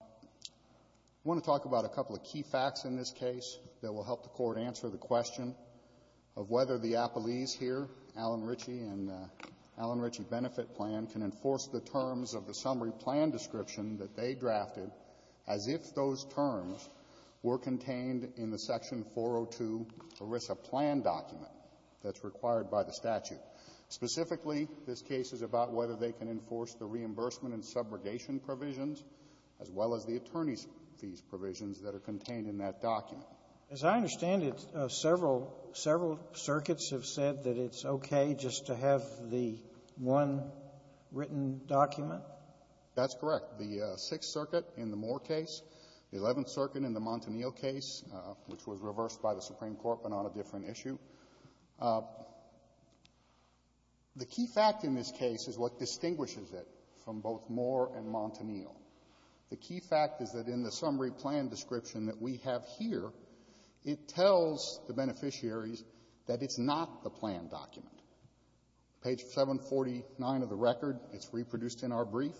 I want to talk about a couple of key facts in this case that will help the court answer the question of whether the Appellees here, Alan Ritchey and Alan Ritchey Bnft Plan, can enforce the terms of the summary plan description that they drafted as if those terms were contained in the Section 402 ERISA Plan document that's required by the statute. Specifically, this case is about whether they can enforce the reimbursement and subrogation provisions as well as the attorney's fees provisions that are contained in that document. Sotomayor, as I understand it, several circuits have said that it's okay just to have the one written document? That's correct. The Sixth Circuit in the Moore case, the Eleventh Circuit in the Montanil case, which was reversed by the Supreme Court, but on a different issue. The key fact in this case is what distinguishes it from both Moore and Montanil. The key fact is that in the summary plan description that we have here, it tells the beneficiaries that it's not the plan document. Page 749 of the record, it's reproduced in our brief.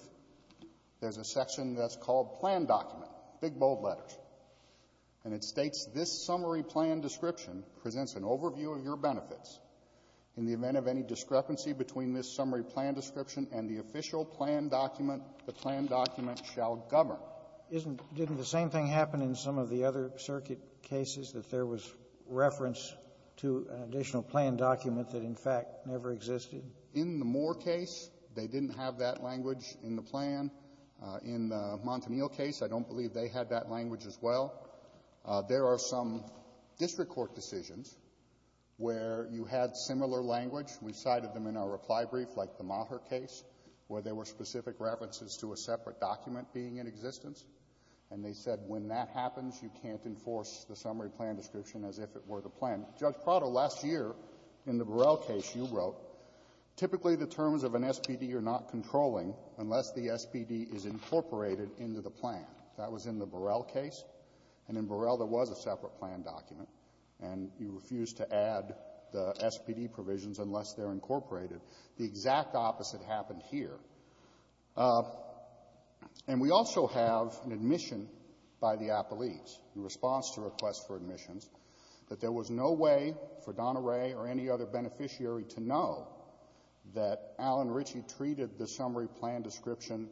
There's a section that's called Plan Document, big, bold letters. And it states, This summary plan description presents an overview of your benefits. In the event of any discrepancy between this summary plan description and the official plan document, the plan document shall govern. Isn't — didn't the same thing happen in some of the other circuit cases, that there was reference to an additional plan document that, in fact, never existed? In the Moore case, they didn't have that language in the plan. In the Montanil case, I don't believe they had that language as well. There are some district court decisions where you had similar language. We cited them in our reply brief, like the Maher case, where there were specific references to a separate document being in existence. And they said when that happens, you can't enforce the summary plan description as if it were the plan. Judge Prado, last year in the Burrell case, you wrote, typically the terms of an SPD you're not controlling unless the SPD is incorporated into the plan. That was in the Burrell case. And in Burrell, there was a separate plan document. And you refused to add the SPD provisions unless they're incorporated. The exact opposite happened here. And we also have an admission by the apologies, in response to requests for admissions, that there was no way for Donna Ray or any other beneficiary to know that Alan Ritchie treated the summary plan description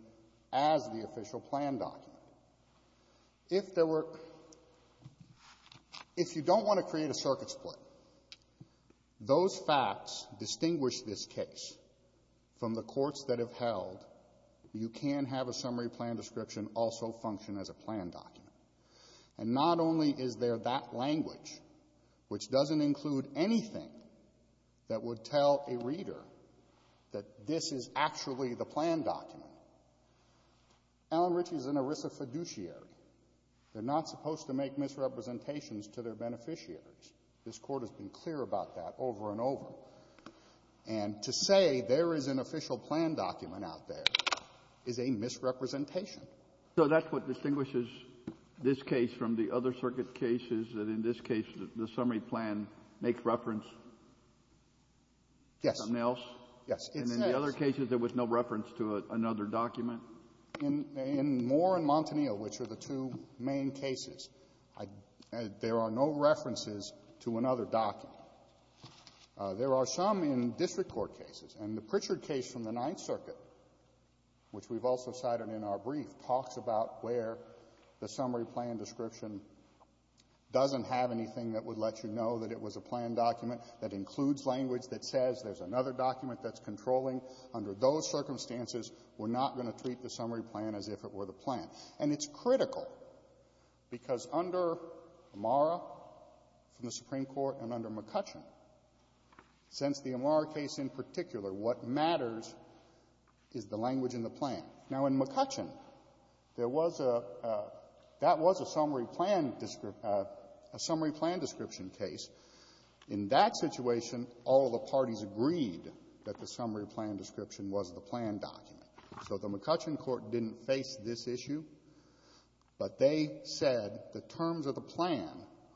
as the official plan document. If there were — if you don't want to create a circuit split, those facts distinguish this case from the courts that have held you can have a summary plan description also function as a plan document. And not only is there that language, which doesn't include anything that would tell a reader that this is actually the plan document. Alan Ritchie is an ERISA fiduciary. They're not supposed to make misrepresentations to their beneficiaries. This Court has been clear about that over and over. And to say there is an official plan document out there is a misrepresentation. So that's what distinguishes this case from the other circuit cases, that in this case, the summary plan makes reference to something else? Yes. Yes. And in the other cases, there was no reference to another document? In Moore and Montanillo, which are the two main cases, I — there are no references to another document. There are some in district court cases. And the Pritchard case from the Ninth Circuit, which we've also cited in our brief, talks about where the summary plan description doesn't have anything that would let you know that it was a plan document that includes language that says there's another document that's controlling. Under those circumstances, we're not going to treat the summary plan as if it were the plan. And it's critical, because under Amara from the Supreme Court and under McCutcheon, since the Amara case in particular, what matters is the language in the plan. Now, in McCutcheon, there was a — that was a summary plan — a summary plan description case. In that situation, all the parties agreed that the summary plan description was the plan document. So the McCutcheon court didn't face this issue, but they said the terms of the plan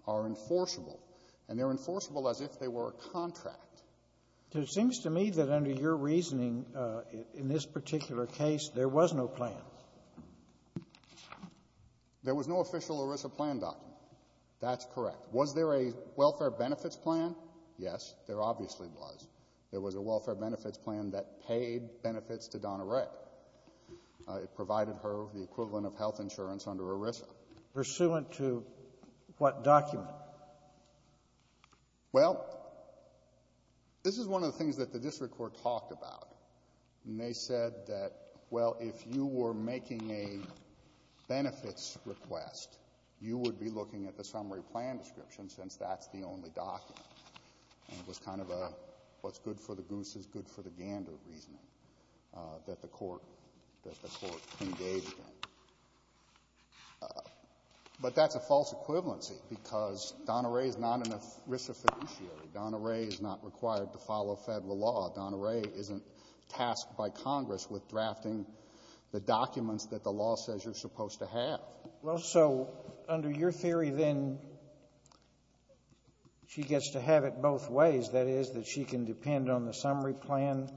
are enforceable, and they're enforceable as if they were a contract. It seems to me that under your reasoning, in this particular case, there was no plan. There was no official ERISA plan document. That's correct. Was there a welfare benefits plan? Yes. There obviously was. There was a welfare benefits plan that paid benefits to Donna Rae. It provided her the equivalent of health insurance under ERISA. Pursuant to what document? Well, this is one of the things that the district court talked about. And they said that, well, if you were making a benefits request, you would be looking at the summary plan description, since that's the only document. And it was kind of a, what's good for the goose is good for the gander, reasoning that the court — that the court engaged in. But that's a false equivalency, because Donna Rae is not an ERISA fiduciary. Donna Rae is not required to follow Federal law. Donna Rae isn't tasked by Congress with drafting the documents that the law says you're supposed to have. Well, so under your theory, then, she gets to have it both ways. That is, that she can depend on the summary plan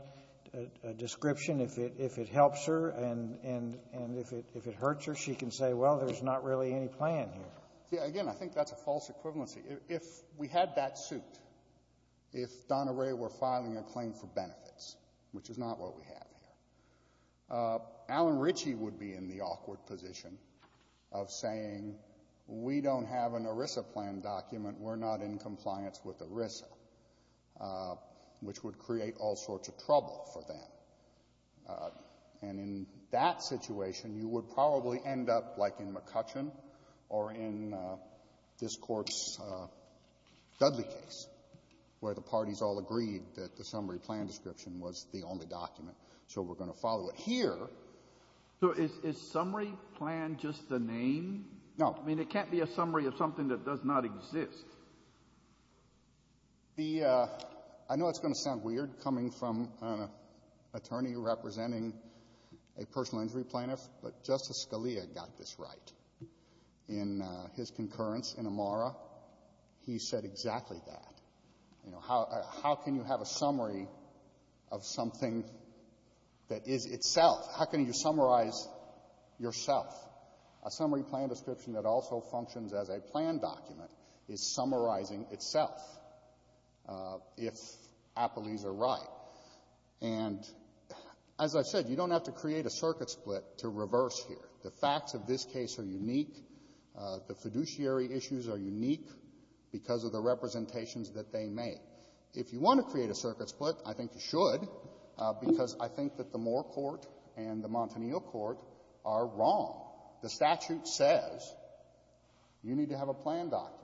description if it helps her, and if it hurts her, she can say, well, there's not really any plan here. Yeah. Again, I think that's a false equivalency. If we had that suit, if Donna Rae were filing a claim for benefits, which is not what we have here, Alan Ritchie would be in the awkward position of saying, we don't have an ERISA plan document, we're not in compliance with ERISA, which would create all sorts of trouble for them. And in that situation, you would probably end up like in McCutcheon or in this Court's Dudley case, where the parties all agreed that the summary plan description was the only document, so we're going to follow it here. So is summary plan just the name? No. I mean, it can't be a summary of something that does not exist. The — I know it's going to sound weird coming from an attorney representing a personal injury plaintiff, but Justice Scalia got this right. In his concurrence in Amara, he said exactly that. You know, how can you have a summary of something that is itself? How can you summarize yourself? A summary plan description that also functions as a plan document is summarizing itself, if Applees are right. And as I've said, you don't have to create a circuit split to reverse here. The facts of this case are unique. The fiduciary issues are unique because of the representations that they make. If you want to create a circuit split, I think you should, because I think that the Moore court and the Montanil court are wrong. The statute says you need to have a plan document.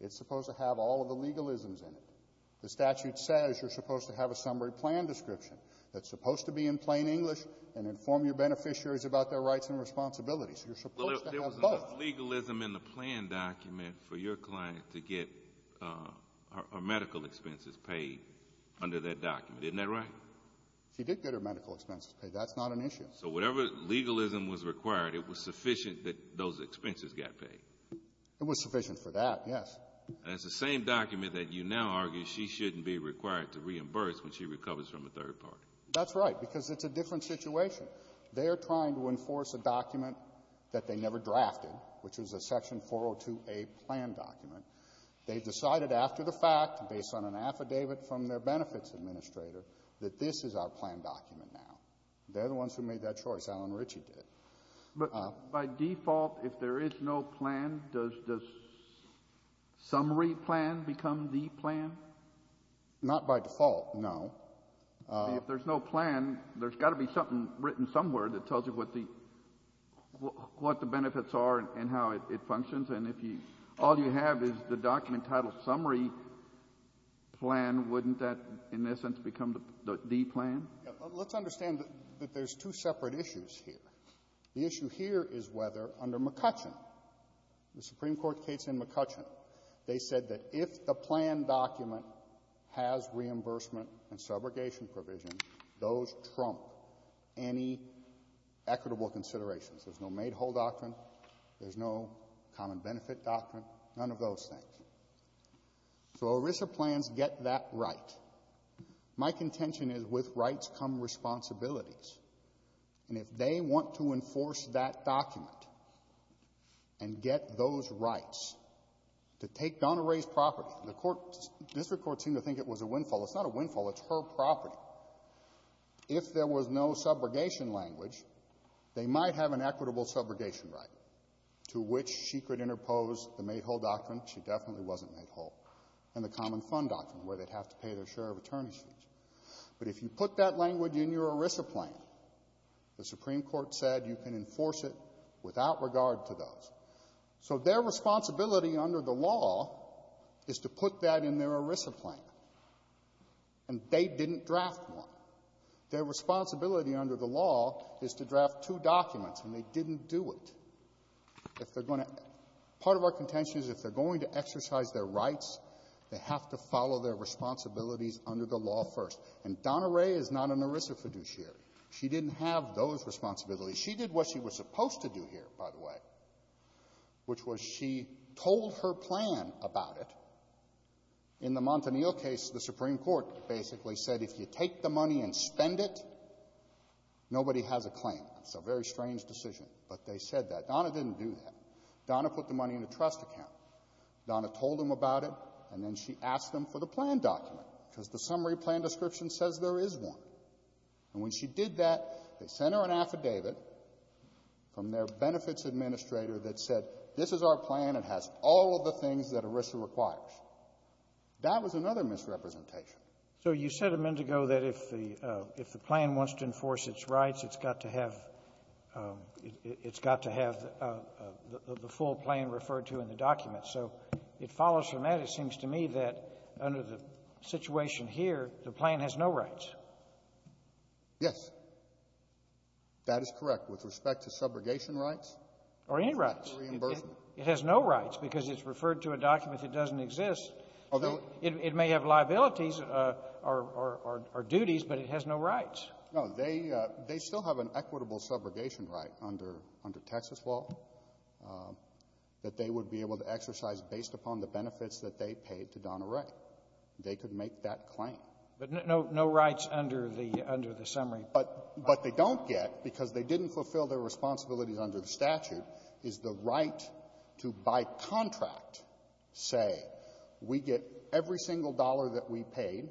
It's supposed to have all of the legalisms in it. The statute says you're supposed to have a summary plan description that's supposed to be in plain English and inform your beneficiaries about their rights and responsibilities. You're supposed to have both. Well, there was enough legalism in the plan document for your client to get her medical expenses paid under that document. Isn't that right? She did get her medical expenses paid. That's not an issue. So whatever legalism was required, it was sufficient that those expenses got paid. It was sufficient for that, yes. And it's the same document that you now argue she shouldn't be required to reimburse when she recovers from a third party. That's right, because it's a different situation. They are trying to enforce a document that they never drafted, which was a Section 402a plan document. They decided after the fact, based on an affidavit from their benefits administrator, that this is our plan document now. They're the ones who made that choice. Alan Ritchie did. But by default, if there is no plan, does the summary plan become the plan? Not by default, no. If there's no plan, there's got to be something written somewhere that tells you what the benefits are and how it functions. And if all you have is the document titled summary plan, wouldn't that, in essence, become the plan? Let's understand that there's two separate issues here. The issue here is whether, under McCutcheon, the Supreme Court case in McCutcheon, they said that if the plan document has reimbursement and subrogation provision, those trump any equitable considerations. There's no made-whole doctrine, there's no common benefit doctrine, none of those things. So ERISA plans get that right. My contention is, with rights come responsibilities, and if they want to enforce that document and get those rights, to take Donna Rae's property, the court — district courts seem to think it was a windfall. It's not a windfall. It's her property. If there was no subrogation language, they might have an equitable subrogation right to which she could interpose the made-whole doctrine — she definitely wasn't made-whole — and the common fund doctrine, where they'd have to pay their share of attorney's fees. But if you put that language in your ERISA plan, the Supreme Court said you can enforce it without regard to those. So their responsibility under the law is to put that in their ERISA plan, and they didn't draft one. Their responsibility under the law is to draft two documents, and they didn't do it. If they're going to — part of our contention is, if they're going to exercise their rights, they have to follow their responsibilities under the law first. And Donna Rae is not an ERISA fiduciary. She didn't have those responsibilities. She did what she was supposed to do here, by the way, which was she told her plan about it. In the Montanil case, the Supreme Court basically said if you take the money and spend it, nobody has a claim. It's a very strange decision, but they said that. Donna didn't do that. Donna put the money in a trust account. Donna told them about it, and then she asked them for the plan document, because the summary plan description says there is one. And when she did that, they sent her an affidavit from their benefits administrator that said, this is our plan. It has all of the things that ERISA requires. That was another misrepresentation. So you said, Amendigo, that if the — if the plan wants to enforce its rights, it's got to have — it's got to have the full plan referred to in the document. So it follows from that, it seems to me, that under the situation here, the plan has no rights. Yes. That is correct with respect to subrogation rights. Or any rights. It has no rights, because it's referred to a document that doesn't exist. It may have liabilities or duties, but it has no rights. No. They still have an equitable subrogation right under Texas law that they would be able to exercise based upon the benefits that they paid to Donna Ray. They could make that claim. But no rights under the — under the summary. But they don't get, because they didn't fulfill their responsibilities under the statute, is the right to, by contract, say, we get every single dollar that we paid,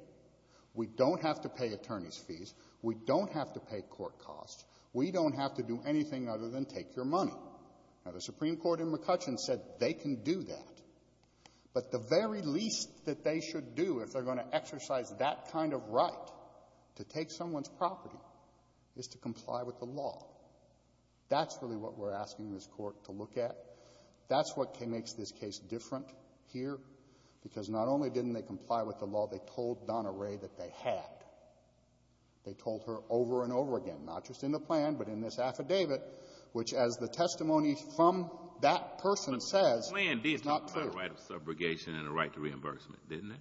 we don't have to pay attorney's fees, we don't have to pay court costs, we don't have to do anything other than take your money. Now, the Supreme Court in McCutcheon said they can do that. But the very least that they should do if they're going to exercise that kind of right to take someone's property is to comply with the law. That's really what we're asking this Court to look at. That's what makes this case different here, because not only didn't they comply with the law, they told Donna Ray that they had. They told her over and over again, not just in the plan, but in this affidavit, which, as the testimony from that person says, is not true. But the plan did talk about a right of subrogation and a right to reimbursement, didn't it?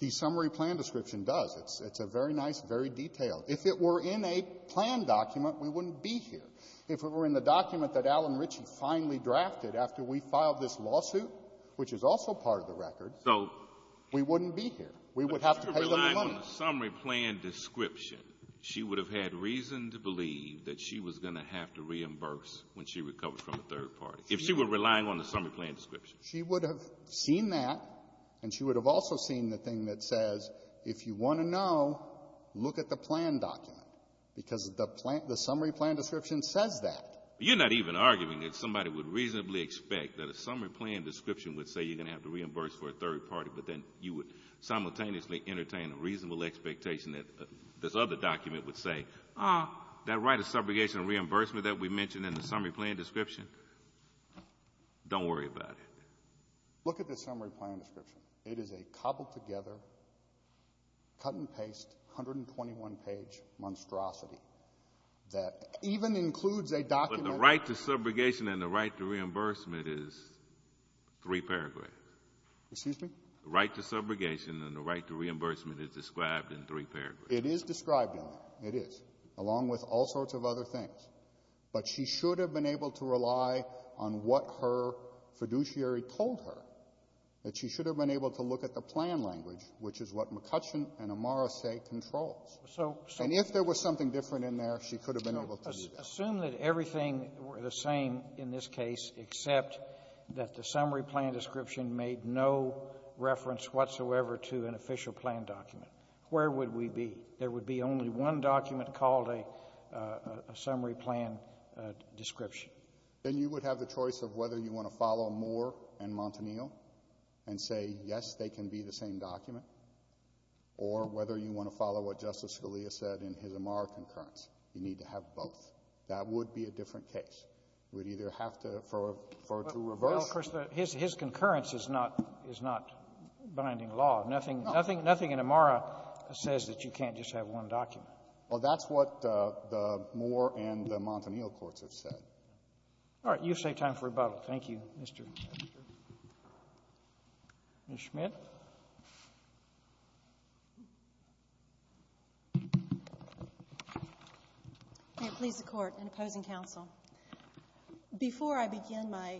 The summary plan description does. It's a very nice, very detailed. If it were in a plan document, we wouldn't be here. If it were in the document that Alan Ritchie finally drafted after we filed this lawsuit, which is also part of the record, we wouldn't be here. We would have to pay them the money. But if she were relying on the summary plan description, she would have had reason to believe that she was going to have to reimburse when she recovered from a third party, if she were relying on the summary plan description. She would have seen that, and she would have also seen the thing that says, if you want to know, look at the plan document, because the plan — the summary plan description says that. You're not even arguing that somebody would reasonably expect that a summary plan description would say you're going to have to reimburse for a third party, but then you would simultaneously entertain a reasonable expectation that this other document would say, ah, that right of subrogation and reimbursement that we mentioned in the summary plan description, don't worry about it. Look at the summary plan description. It is a cobbled-together, cut-and-paste, 121-page monstrosity that even includes a document But the right to subrogation and the right to reimbursement is three paragraphs. Excuse me? The right to subrogation and the right to reimbursement is described in three paragraphs. It is described in there. It is, along with all sorts of other things. But she should have been able to rely on what her fiduciary told her, that she should have been able to look at the plan language, which is what McCutcheon and Amara say controls. So — And if there was something different in there, she could have been able to do that. Assume that everything were the same in this case, except that the summary plan description made no reference whatsoever to an official plan document. Where would we be? There would be only one document called a summary plan description. Then you would have the choice of whether you want to follow Moore and Montanillo and say, yes, they can be the same document, or whether you want to follow what Justice Scalia said in his Amara concurrence. You need to have both. That would be a different case. We'd either have to refer to reverse or to the same document. Well, of course, his concurrence is not binding law. Nothing — nothing in Amara says that you can't just have one document. Well, that's what the Moore and the Montanillo courts have said. All right. You've saved time for rebuttal. Thank you, Mr. Schmidt. May it please the Court and opposing counsel, before I begin my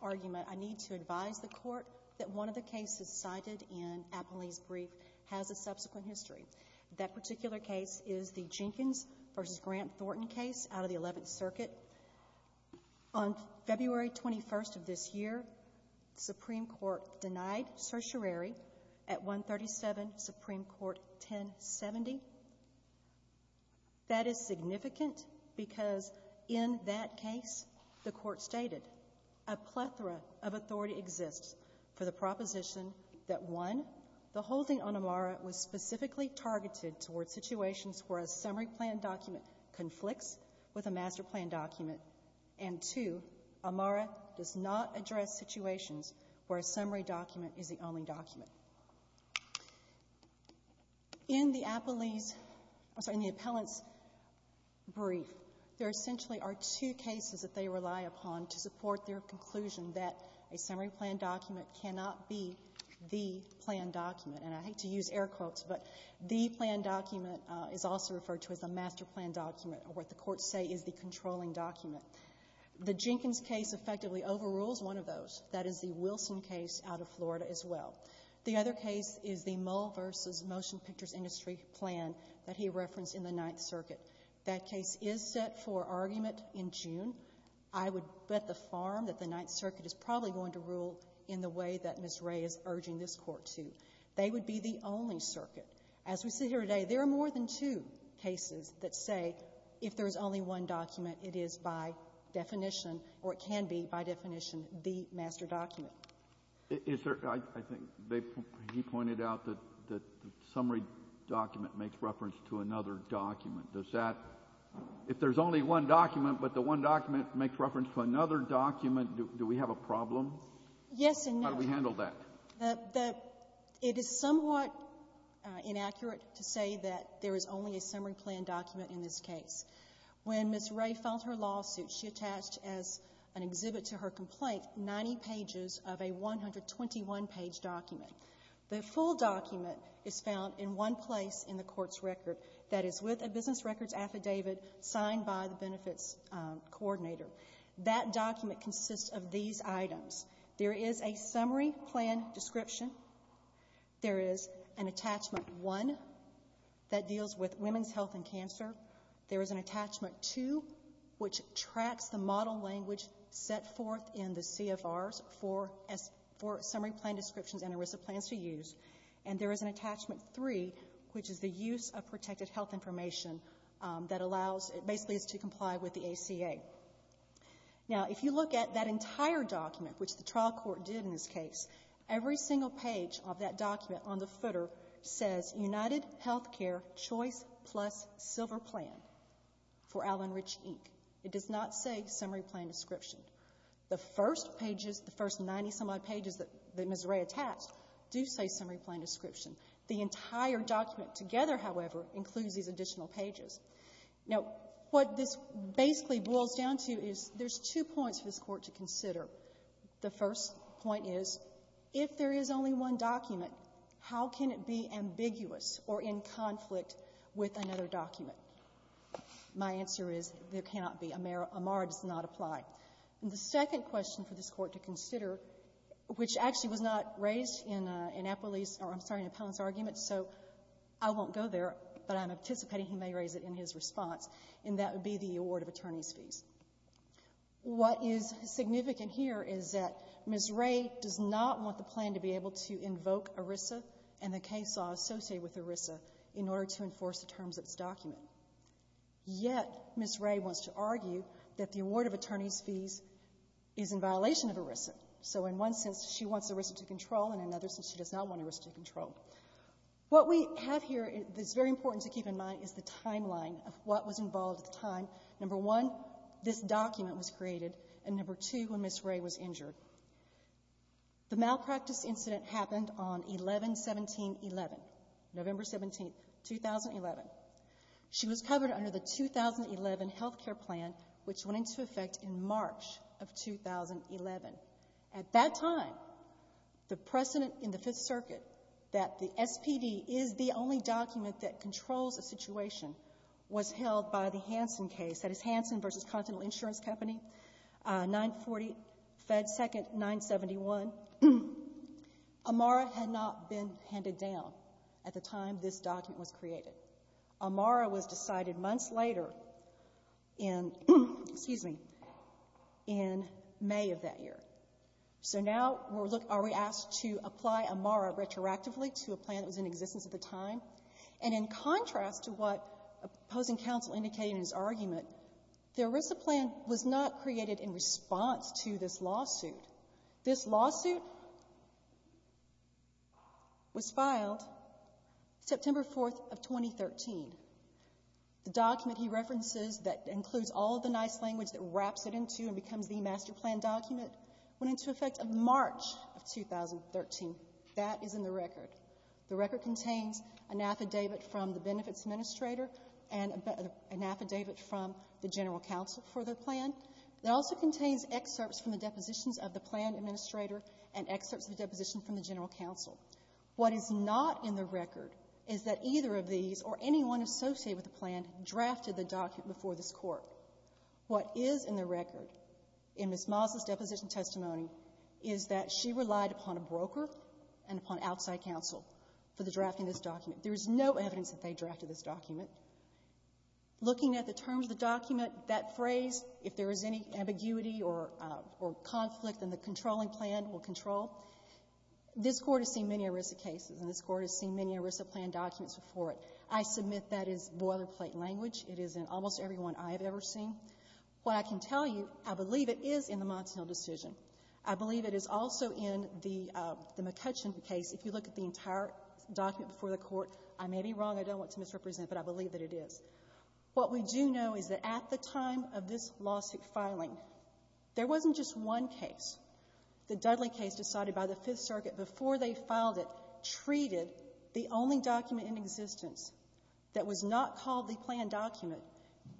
argument, I need to advise the Court that one of the cases cited in Appley's brief has a subsequent history. That particular case is the Jenkins v. Grant Thornton case out of the Eleventh Circuit. On February 21st of this year, the Supreme Court denied certiorari at 137 Supreme Court 1070. That is significant because in that case, the Court stated, a plethora of authority exists for the proposition that, one, the holding on Amara was specifically targeted towards situations where a summary plan document conflicts with a master plan document, and, two, Amara does not address situations where a summary document is the only document. In the Appley's — I'm sorry, in the appellant's brief, there essentially are two cases that they rely upon to support their conclusion that a summary plan document cannot be the plan document, and I hate to use air quotes, but the plan document is also referred to as a master plan document, or what the courts say is the controlling document. The Jenkins case effectively overrules one of those. That is the Wilson case out of Florida as well. The other case is the Mull v. Motion Pictures Industry plan that he referenced in the Ninth Circuit. That case is set for argument in June. I would bet the farm that the Ninth Circuit is probably going to rule in the way that Ms. Wray is urging this Court to. They would be the only circuit. As we sit here today, there are more than two cases that say if there is only one master document. Is there — I think they — he pointed out that the summary document makes reference to another document. Does that — if there's only one document, but the one document makes reference to another document, do we have a problem? Yes and no. How do we handle that? The — it is somewhat inaccurate to say that there is only a summary plan document in this case. When Ms. Wray filed her lawsuit, she attached as an exhibit to her complaint 90 pages of a 121-page document. The full document is found in one place in the Court's record. That is with a business records affidavit signed by the benefits coordinator. That document consists of these items. There is a summary plan description. There is an attachment 1 that deals with women's health and cancer. There is an attachment 2, which tracks the model language set forth in the CFRs for summary plan descriptions and ERISA plans to use. And there is an attachment 3, which is the use of protected health information that allows — basically is to comply with the ACA. Now, if you look at that entire document, which the trial court did in this case, every single page of that document on the footer says, UnitedHealthcare Choice Plus Silver Plan for Allen Rich, Inc. It does not say summary plan description. The first pages, the first 90-some-odd pages that Ms. Wray attached do say summary plan description. The entire document together, however, includes these additional pages. Now, what this basically boils down to is there's two points for this Court to consider. The first point is, if there is only one document, how can it be ambiguous or in conflict with another document? My answer is, there cannot be. Amar does not apply. And the second question for this Court to consider, which actually was not raised in Appellee's — or I'm sorry, in Appellant's argument, so I won't go there, but I'm anticipating he may raise it in his response, and that would be the award of attorneys' fees. What is significant here is that Ms. Wray does not want the plan to be able to invoke ERISA and the case law associated with ERISA in order to enforce the terms of this document. Yet, Ms. Wray wants to argue that the award of attorneys' fees is in violation of ERISA. So in one sense, she wants ERISA to control, and in another sense, she does not want ERISA to control. What we have here that's very important to keep in mind is the timeline of what was involved at the time. Number one, this document was created, and number two, when Ms. Wray was injured. The malpractice incident happened on 11-17-11, November 17, 2011. She was covered under the 2011 health care plan, which went into effect in March of 2011. At that time, the precedent in the Fifth Circuit that the SPD is the only document that controls a situation was held by the Hansen case, that is Hansen v. Continental Insurance Company, 940 Fed 2nd 971. AMARA had not been handed down at the time this document was created. AMARA was decided months later in May of that year. So now, are we asked to apply AMARA retroactively to a plan that was in existence at the time? And in contrast to what opposing counsel indicated in his argument, the ERISA plan was not created in response to this lawsuit. This lawsuit was filed September 4th of 2013. The document he references that includes all the nice language that wraps it into and becomes the master plan document went into effect in March of 2013. That is in the record. The record contains an affidavit from the benefits administrator and an affidavit from the general counsel for the plan. It also contains excerpts from the depositions of the plan administrator and excerpts of the deposition from the general counsel. What is not in the record is that either of these or anyone associated with the plan drafted the document before this Court. What is in the record in Ms. Miles' deposition testimony is that she relied upon a broker and upon outside counsel for the drafting of this document. There is no evidence that they drafted this document. Looking at the terms of the document, that phrase, if there is any ambiguity or conflict, then the controlling plan will control. This Court has seen many ERISA cases and this Court has seen many ERISA plan documents before it. I submit that is boilerplate language. It is in almost every one I have ever seen. What I can tell you, I believe it is in the Monson Hill decision. I believe it is also in the McCutcheon case. If you look at the entire document before the Court, I may be wrong. I don't want to misrepresent, but I believe that it is. What we do know is that at the time of this lawsuit filing, there wasn't just one case. The Dudley case decided by the Fifth Circuit before they filed it treated the only document in existence that was not called the planned document,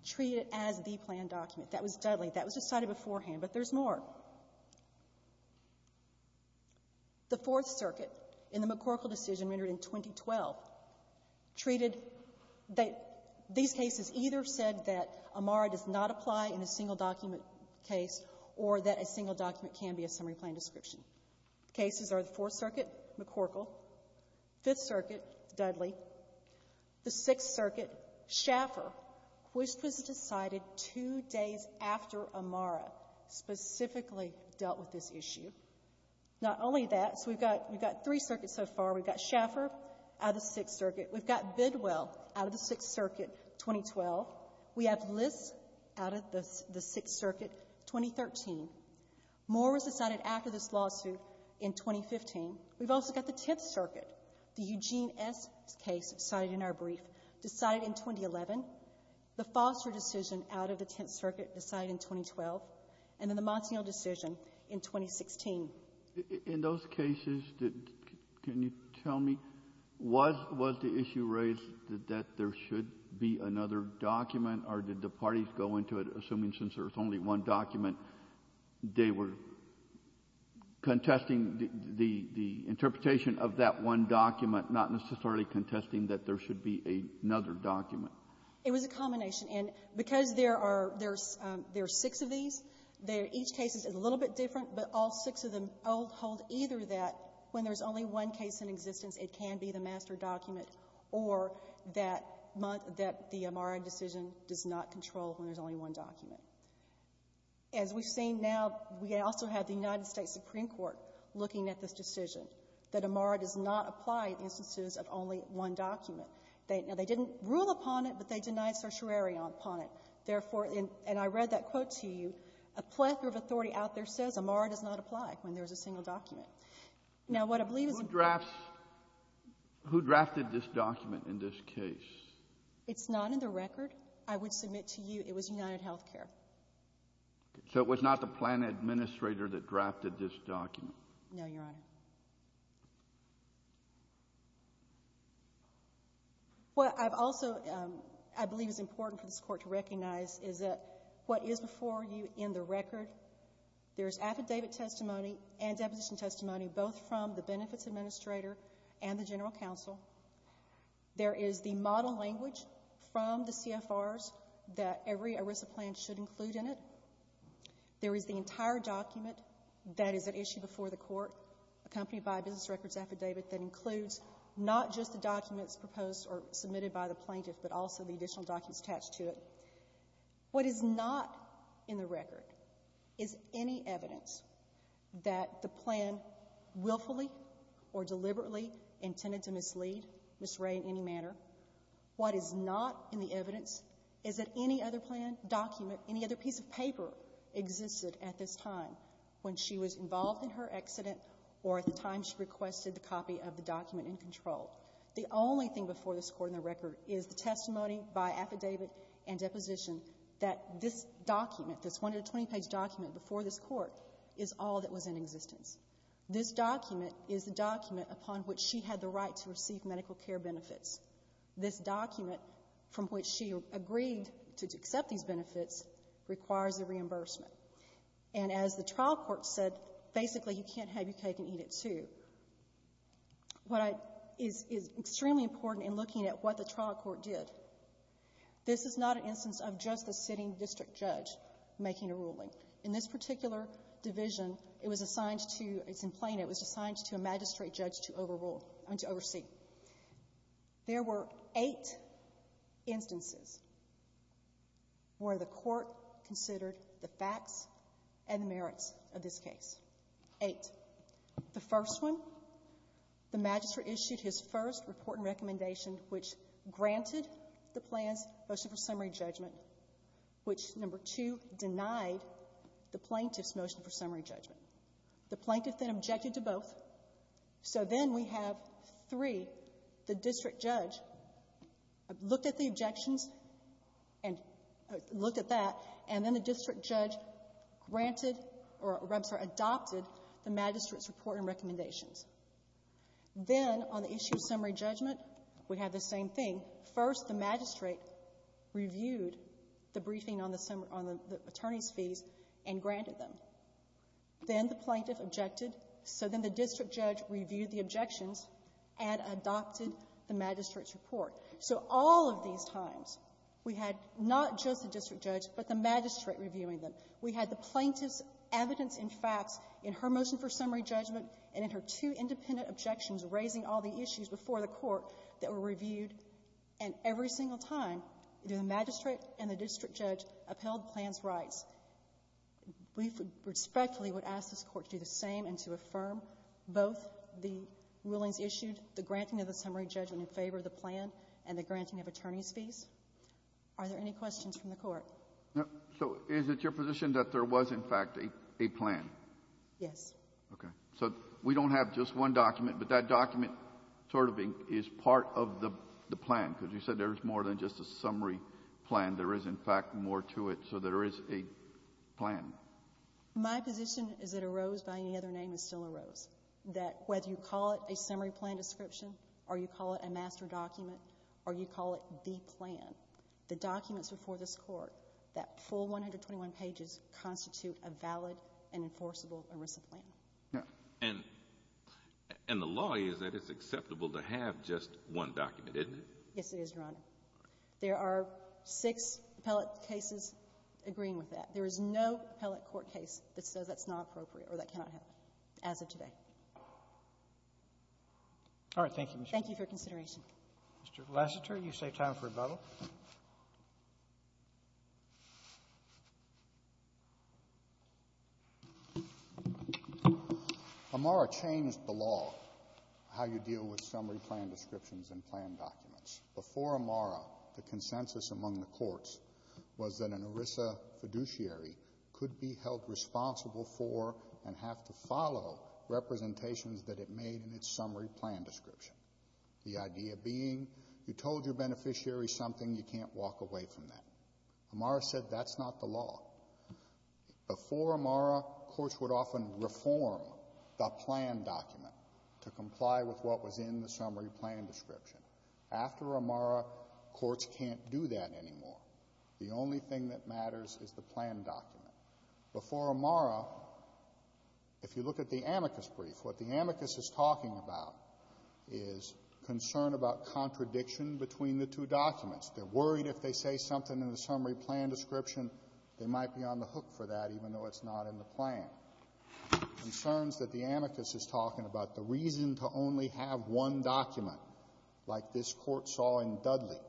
treated it as the planned document. That was Dudley. That was decided beforehand, but there's more. The Fourth Circuit in the McCorkle decision rendered in 2012 treated that these cases either said that a MARA does not apply in a single document case or that a single document can be a summary plan description. Cases are the Fourth Circuit, McCorkle, Fifth Circuit, Dudley, the Sixth Circuit, Schaffer, which was decided two days after a MARA specifically dealt with this issue. Not only that, so we've got three circuits so far. We've got Schaffer out of the Sixth Circuit. We've got Bidwell out of the Sixth Circuit, 2012. We have List out of the Sixth Circuit, 2013. More was decided after this lawsuit in 2015. We've also got the Tenth Circuit, the Eugene S. case decided in our brief, decided in 2011, the Foster decision out of the Tenth Circuit decided in 2012, and then the Monsignor decision in 2016. In those cases, can you tell me, was the issue raised that there should be another document, or did the parties go into it assuming since there's only one document, they were contesting the interpretation of that one document, not necessarily contesting that there should be another document? It was a combination. And because there are six of these, each case is a little bit different, but all six of them hold either that when there's only one case in existence, it can be the master document, or that the MARA decision does not control when there's only one document. As we've seen now, we also have the United States Supreme Court looking at this decision, that a MARA does not apply in instances of only one document. Now, they didn't rule upon it, but they denied certiorari upon it. Therefore, and I read that quote to you, a plethora of authority out there says a MARA does not apply when there's a single document. Now, what I believe is the case of this case. Who drafted this document in this case? It's not in the record. I would submit to you it was UnitedHealthcare. So it was not the plan administrator that drafted this document? No, Your Honor. What I've also, I believe is important for this Court to recognize is that what is before you in the record, there's affidavit testimony and deposition testimony, both from the benefits administrator and the general counsel. There is the model language from the CFRs that every ERISA plan should include in it. There is the entire document that is at issue before the Court, accompanied by a business records affidavit that includes not just the documents proposed or submitted by the plaintiff but also the additional documents attached to it. What is not in the record is any evidence that the plan willfully or deliberately intended to mislead Ms. Ray in any manner. What is not in the evidence is that any other plan, document, any other piece of paper existed at this time when she was involved in her accident or at the time she requested the copy of the document in control. The only thing before this Court in the record is the testimony by affidavit and deposition that this document, this 120-page document before this Court, is all that was in existence. This document is the document upon which she had the right to receive medical care benefits. This document, from which she agreed to accept these benefits, requires a reimbursement. And as the trial court said, basically, you can't have your cake and eat it, too. What is extremely important in looking at what the trial court did, this is not an instance In this particular division, it was assigned to a magistrate judge to oversee. There were eight instances where the court considered the facts and merits of this case. Eight. The first one, the magistrate issued his first report and recommendation which granted the plan's motion for summary judgment, which, number two, denied the plaintiff's motion for summary judgment. The plaintiff then objected to both. So then we have, three, the district judge looked at the objections and looked at that and then the district judge granted or adopted the magistrate's report and recommendations. Then, on the issue of summary judgment, we have the same thing. First, the magistrate reviewed the briefing on the attorneys' fees and granted them. Then the plaintiff objected. So then the district judge reviewed the objections and adopted the magistrate's report. So all of these times, we had not just the district judge, but the magistrate reviewing them. We had the plaintiff's evidence and facts in her motion for summary judgment and in her two independent objections raising all the issues before the court that were reviewed, and every single time, the magistrate and the district judge upheld the plan's rights. We respectfully would ask this Court to do the same and to affirm both the willings issued, the granting of the summary judgment in favor of the plan, and the granting of attorneys' fees. Are there any questions from the Court? No. So is it your position that there was, in fact, a plan? Yes. Okay. So we don't have just one document, but that document sort of is part of the plan, because you said there's more than just a summary plan. There is, in fact, more to it. So there is a plan. My position is it arose by any other name and still arose, that whether you call it a summary plan description or you call it a master document or you call it the plan, the documents before this Court, that full 121 pages constitute a valid and And the law is that it's acceptable to have just one document, isn't it? Yes, it is, Your Honor. There are six appellate cases agreeing with that. There is no appellate court case that says that's not appropriate or that cannot happen as of today. All right. Thank you, Ms. Schwartz. Thank you for your consideration. Mr. Lassiter, you save time for rebuttal. Amara changed the law, how you deal with summary plan descriptions and plan documents. Before Amara, the consensus among the courts was that an ERISA fiduciary could be held responsible for and have to follow representations that it made in its summary plan description. The idea being you told your beneficiary something, you can't walk away from that. Amara said that's not the law. Before Amara, courts would often reform the plan document to comply with what was in the summary plan description. After Amara, courts can't do that anymore. The only thing that matters is the plan document. Before Amara, if you look at the amicus brief, what the amicus is talking about is concern about contradiction between the two documents. They're worried if they say something in the summary plan description, they might be on the hook for that, even though it's not in the plan. Concerns that the amicus is talking about, the reason to only have one document, like this court saw in Dudley,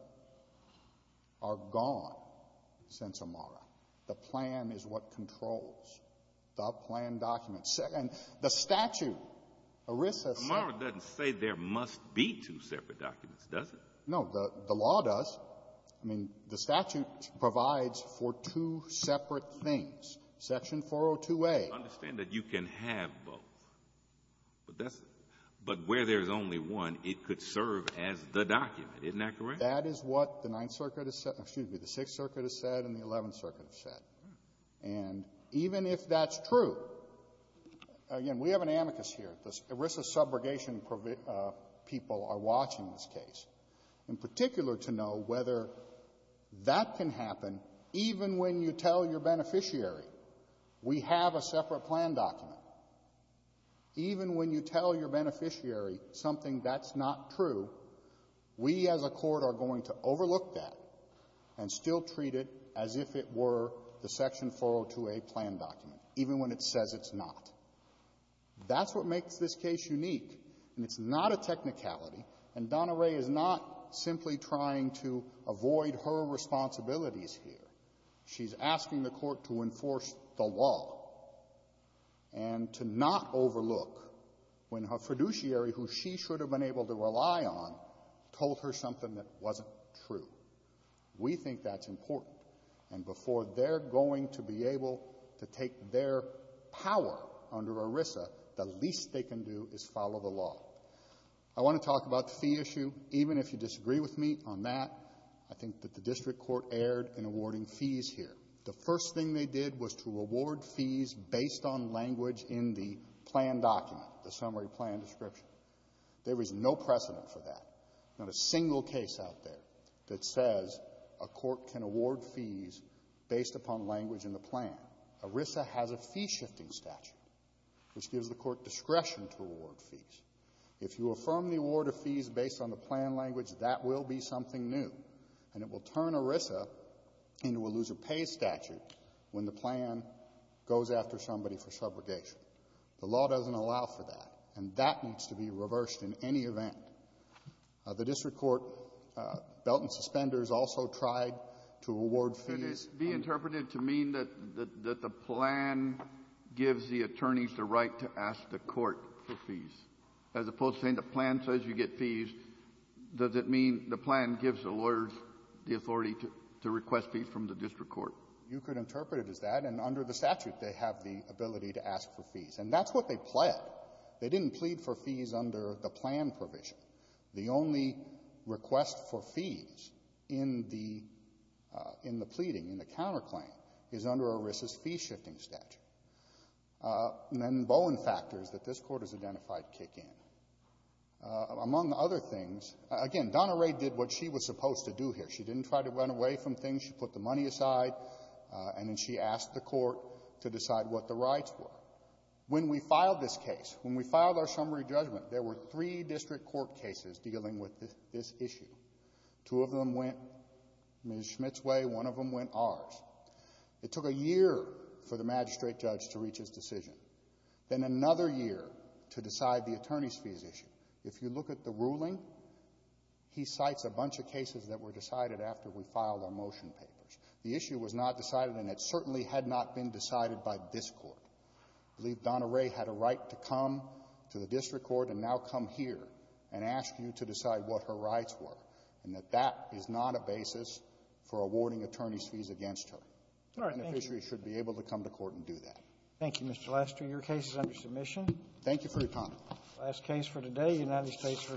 are gone since Amara. The plan is what controls the plan document. And the statute, ERISA said — But Amara doesn't say there must be two separate documents, does it? No. The law does. I mean, the statute provides for two separate things. Section 402a — I understand that you can have both, but that's — but where there's only one, it could serve as the document. Isn't that correct? That is what the Ninth Circuit has said — excuse me, the Sixth Circuit has said and the Eleventh Circuit has said. And even if that's true, again, we have an amicus here. The ERISA subrogation people are watching this case, in particular, to know whether that can happen even when you tell your beneficiary, we have a separate plan document. Even when you tell your beneficiary something that's not true, we as a court are going to overlook that and still treat it as if it were the Section 402a plan document, even when it says it's not. That's what makes this case unique, and it's not a technicality, and Donna Rae is not simply trying to avoid her responsibilities here. She's asking the Court to enforce the law and to not overlook when her fiduciary, who she should have been able to rely on, told her something that wasn't true. We think that's important. And before they're going to be able to take their power under ERISA, the least they can do is follow the law. I want to talk about the fee issue. Even if you disagree with me on that, I think that the district court erred in awarding fees here. The first thing they did was to award fees based on language in the plan document, the summary plan description. There is no precedent for that. Not a single case out there that says a court can award fees based upon language in the plan. ERISA has a fee-shifting statute, which gives the court discretion to award fees. If you affirm the award of fees based on the plan language, that will be something new, and it will turn ERISA into a loser-pays statute when the plan goes after somebody for subrogation. The law doesn't allow for that, and that needs to be reversed in any event. The district court, Belt and Suspenders, also tried to award fees on the plan. Kennedy, be interpreted to mean that the plan gives the attorneys the right to ask the court for fees, as opposed to saying the plan says you get fees. Does it mean the plan gives the lawyers the authority to request fees from the district court? You could interpret it as that. And under the statute, they have the ability to ask for fees. And that's what they pled. They didn't plead for fees under the plan provision. The only request for fees in the pleading, in the counterclaim, is under ERISA's fee-shifting statute. And then Bowen factors that this Court has identified kick in. Among other things, again, Donna Rae did what she was supposed to do here. She didn't try to run away from things. She put the money aside, and then she asked the court to decide what the rights were. When we filed this case, when we filed our summary judgment, there were three district court cases dealing with this issue. Two of them went Ms. Schmidt's way. One of them went ours. It took a year for the magistrate judge to reach his decision. Then another year to decide the attorneys' fees issue. If you look at the ruling, he cites a bunch of cases that were decided after we filed our motion papers. The issue was not decided, and it certainly had not been decided by this Court. I believe Donna Rae had a right to come to the district court and now come here and ask you to decide what her rights were, and that that is not a basis for awarding attorneys' fees against her. The beneficiary should be able to come to court and do that. Thank you, Mr. Lester. Your case is under submission. Thank you for your time. Last case for today, United States v.